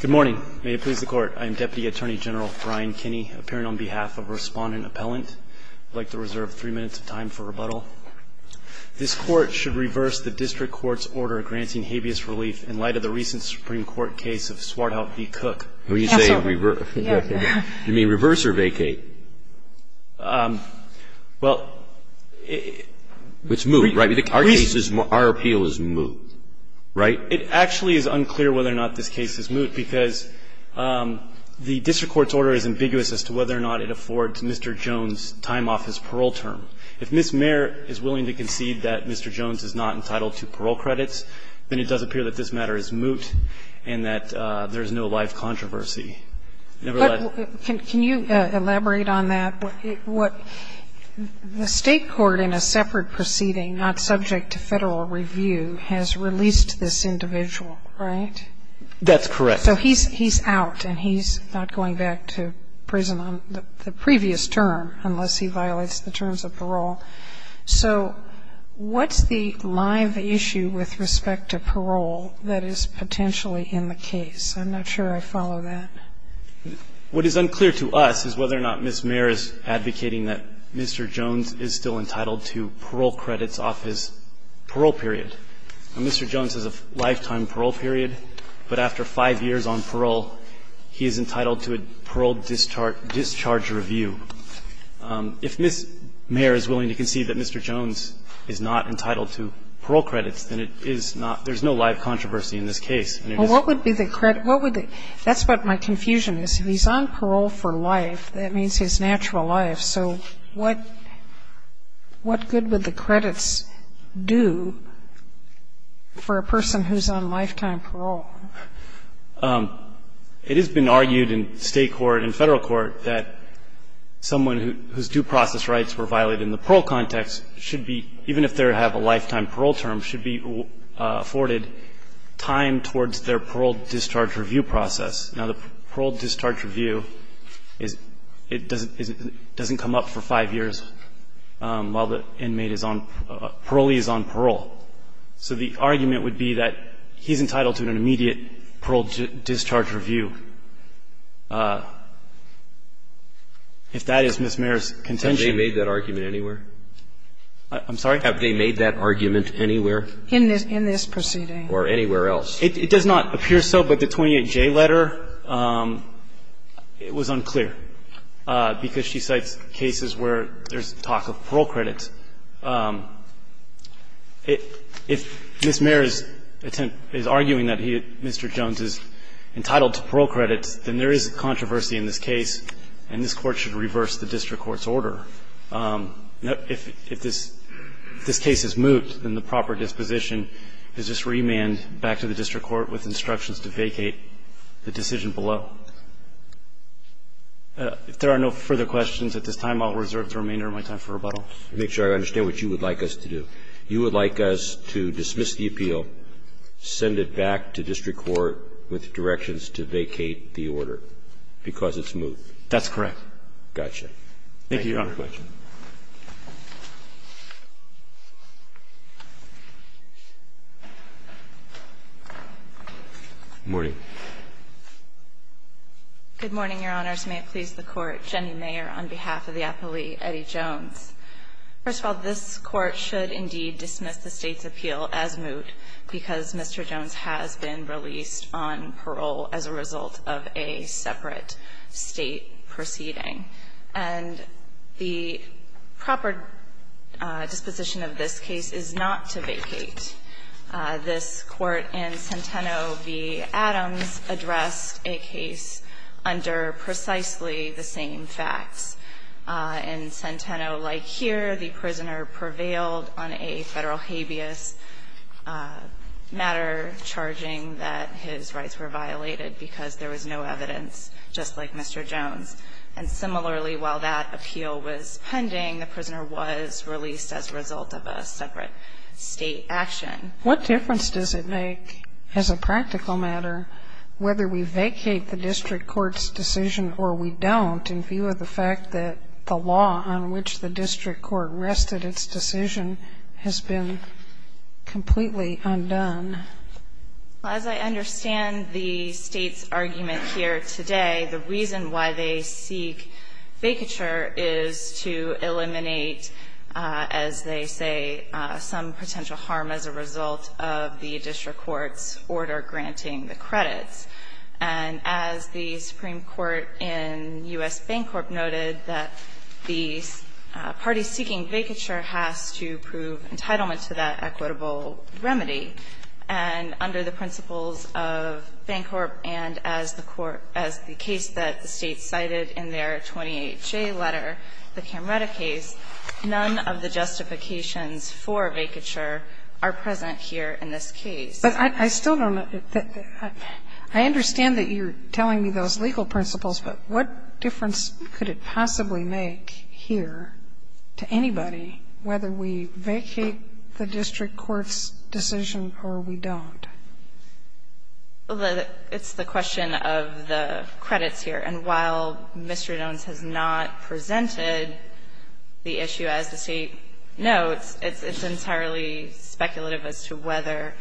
Good morning. May it please the Court. I am Deputy Attorney General Brian Kinney, appearing on behalf of Respondent Appellant. I would like to reserve three minutes of time for rebuttal. This Court should reverse the district court's order granting habeas relief in light of the recent Supreme Court case of Swarthout v. Cook. Absolutely. You mean reverse or vacate? Well, it's moved, right? Our case is moved. Our appeal is moved, right? It actually is unclear whether or not this case is moot, because the district court's order is ambiguous as to whether or not it affords Mr. Jones time off his parole term. If Ms. Mayer is willing to concede that Mr. Jones is not entitled to parole credits, then it does appear that this matter is moot and that there is no life controversy. Nevertheless ---- But can you elaborate on that? What the State court in a separate proceeding not subject to Federal review has released this individual, right? That's correct. So he's out and he's not going back to prison on the previous term unless he violates the terms of parole. So what's the live issue with respect to parole that is potentially in the case? I'm not sure I follow that. What is unclear to us is whether or not Ms. Mayer is advocating that Mr. Jones is still entitled to parole credits off his parole period. Now, Mr. Jones has a lifetime parole period, but after 5 years on parole, he is entitled to a parole discharge review. If Ms. Mayer is willing to concede that Mr. Jones is not entitled to parole credits, then it is not ---- there's no live controversy in this case. And it is ---- Well, what would be the credit? What would the ---- that's what my confusion is. If he's on parole for life, that means his natural life. So what good would the credits do for a person who's on lifetime parole? It has been argued in State court and Federal court that someone whose due process rights were violated in the parole context should be, even if they have a lifetime parole term, should be afforded time towards their parole discharge review process. Now, the parole discharge review is ---- it doesn't come up for 5 years while the inmate is on ---- parolee is on parole. So the argument would be that he's entitled to an immediate parole discharge review. If that is Ms. Mayer's contention ---- Have they made that argument anywhere? I'm sorry? Have they made that argument anywhere? In this proceeding. Or anywhere else. It does not appear so, but the 28J letter, it was unclear, because she cites cases where there's talk of parole credits. If Ms. Mayer is arguing that he, Mr. Jones, is entitled to parole credits, then there is a controversy in this case, and this Court should reverse the district court's order. If this case is moved, then the proper disposition is just remand back to the district court with instructions to vacate the decision below. If there are no further questions at this time, I'll reserve the remainder of my time for rebuttal. To make sure I understand what you would like us to do, you would like us to dismiss the appeal, send it back to district court with directions to vacate the order, because it's moved. That's correct. Got you. Thank you, Your Honor. No further questions. Good morning. Good morning, Your Honors. May it please the Court. Jenny Mayer on behalf of the appellee, Eddie Jones. First of all, this Court should indeed dismiss the State's appeal as moot, because Mr. Jones has been released on parole as a result of a separate State proceeding. And the proper disposition of this case is not to vacate. This Court in Centeno v. Adams addressed a case under precisely the same facts. In Centeno, like here, the prisoner prevailed on a Federal habeas matter, charging that his rights were violated because there was no evidence, just like Mr. Jones. And similarly, while that appeal was pending, the prisoner was released as a result of a separate State action. What difference does it make as a practical matter whether we vacate the district court's decision or we don't in view of the fact that the law on which the district court rested its decision has been completely undone? Well, as I understand the State's argument here today, the reason why they seek vacature is to eliminate, as they say, some potential harm as a result of the district court's order granting the credits. And as the Supreme Court in U.S. Bancorp noted, that the party seeking vacature has to prove entitlement to that equitable remedy. And under the principles of Bancorp and as the Court as the case that the State cited in their 28-J letter, the Camretta case, none of the justifications for vacature are present here in this case. But I still don't know. I understand that you're telling me those legal principles, but what difference could it possibly make here to anybody whether we vacate the district court's decision or we don't? It's the question of the credits here. And while Mr. Jones has not presented the issue as the State notes, it's entirely speculative as to whether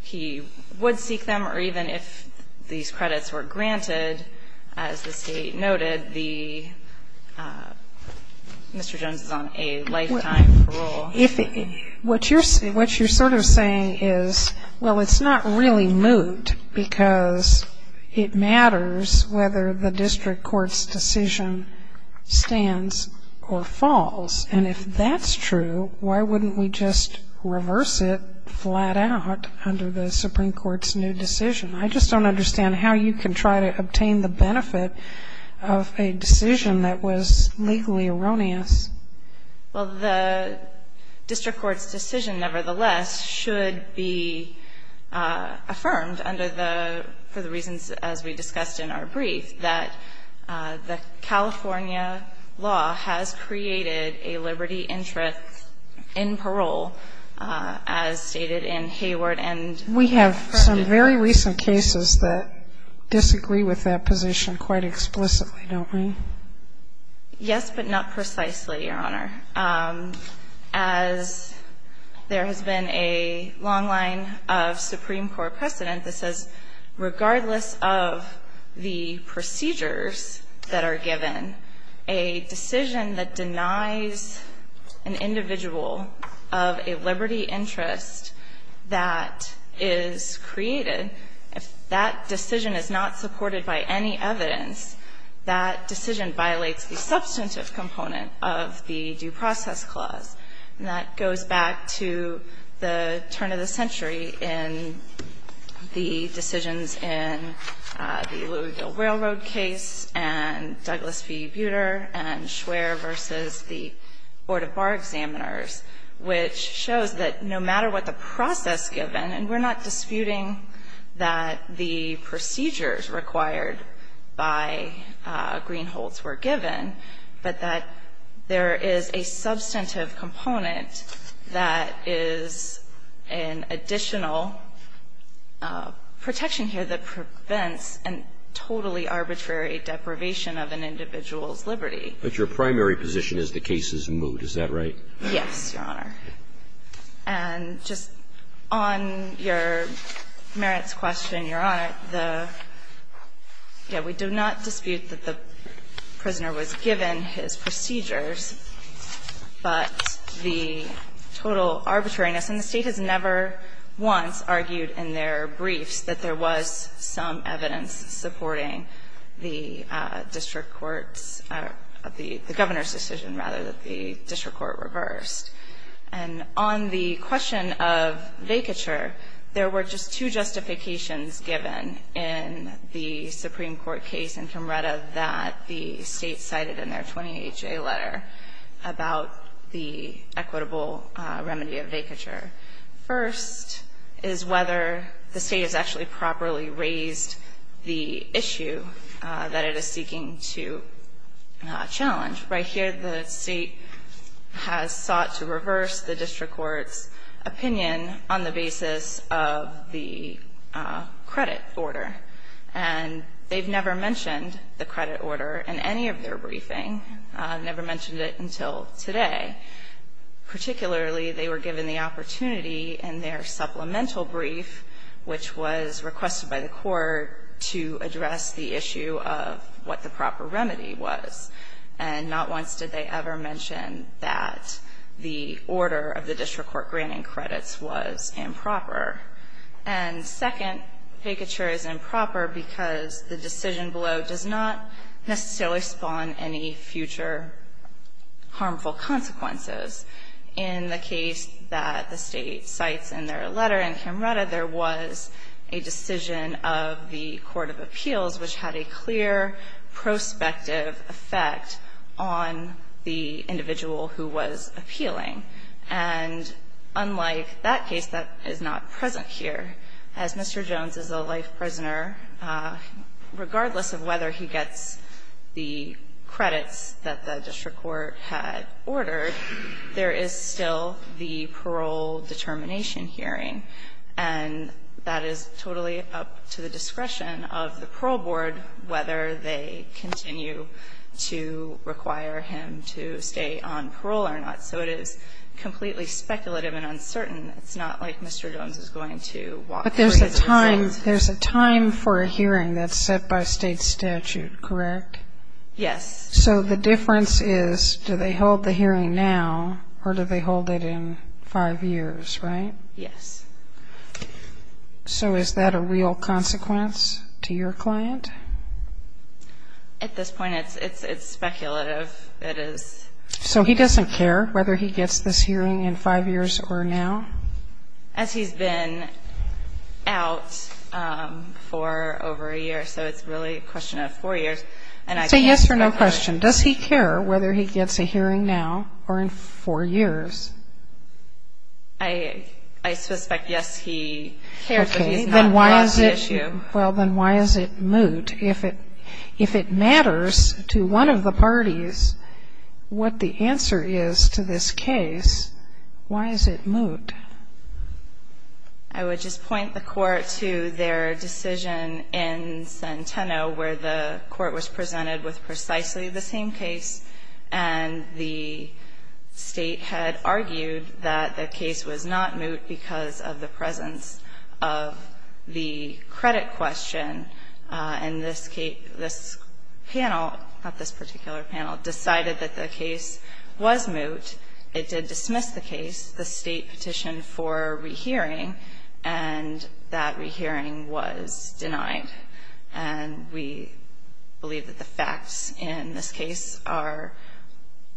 he would seek them or even if these credits were granted as the State noted, the Mr. Jones is on a lifetime parole. If it – what you're sort of saying is, well, it's not really moot because it matters whether the district court's decision stands or falls. And if that's true, why wouldn't we just reverse it flat out under the Supreme Court's new decision? I just don't understand how you can try to obtain the benefit of a decision that was legally erroneous. Well, the district court's decision, nevertheless, should be affirmed under the – for the reasons, as we discussed in our brief, that the California law has created a liberty interest in parole, as stated in Hayward and Frederick. We have some very recent cases that disagree with that position quite explicitly, don't we? Yes, but not precisely, Your Honor. As there has been a long line of Supreme Court precedent that says, regardless of the procedures that are given, a decision that denies an individual of a liberty interest that is created, if that decision is not supported by any evidence, that decision violates the substantive component of the Due Process Clause. And that goes back to the turn of the century in the decisions in the Louisville Railroad case and Douglas v. Buter and Schwer v. the Board of Bar Examiners, which shows that no matter what the process given, and we're not disputing that the procedures required by Greenholz were given, but that there is a substantive component that is an additional protection here that prevents a totally arbitrary deprivation of an individual's liberty. But your primary position is the case is moot. Is that right? Yes, Your Honor. And just on your merits question, Your Honor, the – yeah, we do not dispute that the prisoner was given his procedures, but the total arbitrariness – and the State has never once argued in their briefs that there was some evidence supporting the district court's – the Governor's decision, rather, that the district court reversed. And on the question of vacature, there were just two justifications given in the Supreme Court case in Comreda that the State cited in their 20HA letter about the equitable remedy of vacature. First is whether the State has actually properly raised the issue that it is seeking to challenge. Right here, the State has sought to reverse the district court's opinion on the basis of the credit order. And they've never mentioned the credit order in any of their briefing, never mentioned it until today. Particularly, they were given the opportunity in their supplemental brief, which was requested by the court to address the issue of what the proper remedy was. And not once did they ever mention that the order of the district court granting credits was improper. And second, vacature is improper because the decision below does not necessarily spawn any future harmful consequences. In the case that the State cites in their letter in Comreda, there was a decision of the court of appeals which had a clear prospective effect on the individual who was appealing. And unlike that case, that is not present here, as Mr. Jones is a life prisoner, regardless of whether he gets the credits that the district court had ordered, there is still the parole determination hearing. And that is totally up to the discretion of the parole board whether they continue to require him to stay on parole or not. So it is completely speculative and uncertain. It's not like Mr. Jones is going to walk free. But there's a time for a hearing that's set by State statute, correct? Yes. So the difference is, do they hold the hearing now or do they hold it in five years, right? Yes. So is that a real consequence to your client? At this point, it's speculative. It is. So he doesn't care whether he gets this hearing in five years or now? As he's been out for over a year. So it's really a question of four years. Say yes or no question. Does he care whether he gets a hearing now or in four years? I suspect yes, he cares, but he's not on the issue. Well, then why is it moot? If it matters to one of the parties what the answer is, why is it moot? I would just point the Court to their decision in Centeno where the Court was presented with precisely the same case and the State had argued that the case was not moot because of the presence of the credit question. And this panel, not this particular panel, decided that the case was moot. It did dismiss the case, the State petitioned for rehearing and that rehearing was denied. And we believe that the facts in this case are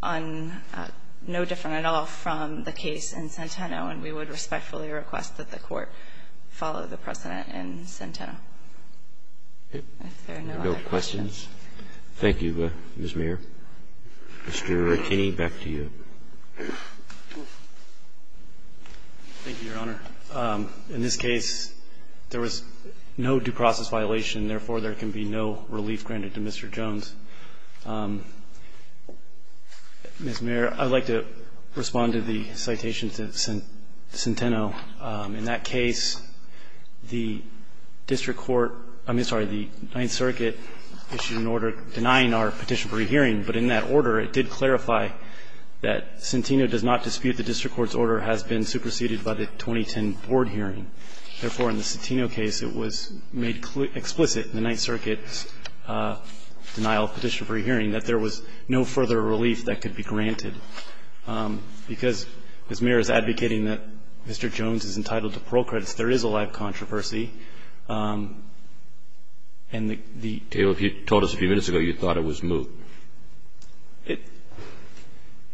no different at all from the case in Centeno, and we would respectfully request that the Court follow the precedent in Centeno, if there are no other questions. Thank you, Ms. Mayer. Mr. Rattini, back to you. Thank you, Your Honor. In this case, there was no due process violation, therefore, there can be no relief granted to Mr. Jones. Ms. Mayer, I would like to respond to the citation to Centeno. In that case, the district court, I mean, sorry, the Ninth Circuit issued an order denying our petition for rehearing, but in that order, it did clarify that Centeno does not dispute the district court's order has been superseded by the 2010 board hearing. Therefore, in the Centeno case, it was made explicit in the Ninth Circuit's denial of petition for rehearing that there was no further relief that could be granted. Because Ms. Mayer is advocating that Mr. Jones is entitled to parole credits, and there is a controversy, and the ---- Taylor, if you told us a few minutes ago, you thought it was moot. It ----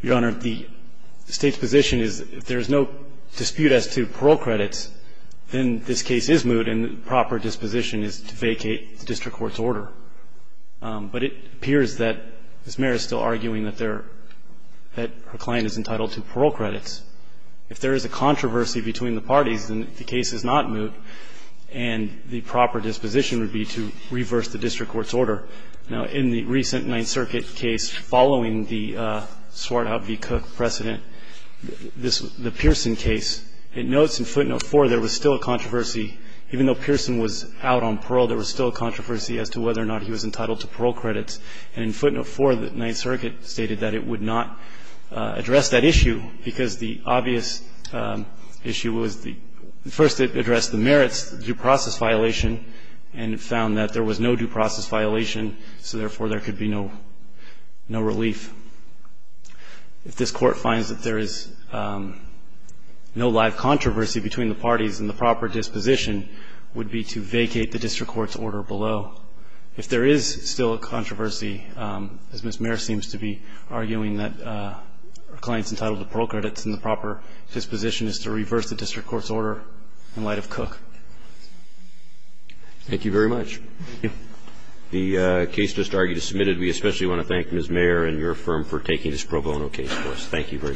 Your Honor, the State's position is if there is no dispute as to parole credits, then this case is moot, and the proper disposition is to vacate the district court's order. But it appears that Ms. Mayer is still arguing that there ---- that her client is entitled to parole credits. If there is a controversy between the parties, then the case is not moot, and the proper disposition would be to reverse the district court's order. Now, in the recent Ninth Circuit case following the Swartout v. Cook precedent, this ---- the Pearson case, it notes in footnote 4 there was still a controversy ---- even though Pearson was out on parole, there was still a controversy as to whether or not he was entitled to parole credits. And in footnote 4, the Ninth Circuit stated that it would not address that issue because the obvious issue was the ---- first it addressed the merits, the due process violation, and it found that there was no due process violation, so therefore there could be no relief. If this Court finds that there is no live controversy between the parties, then the proper disposition would be to vacate the district court's order below. If there is still a controversy, as Ms. Mayer seems to be arguing, that her client is entitled to parole credits and the proper disposition is to reverse the district court's order in light of Cook. Thank you very much. Thank you. The case just argued is submitted. We especially want to thank Ms. Mayer and your firm for taking this pro bono case for us. Thank you very much.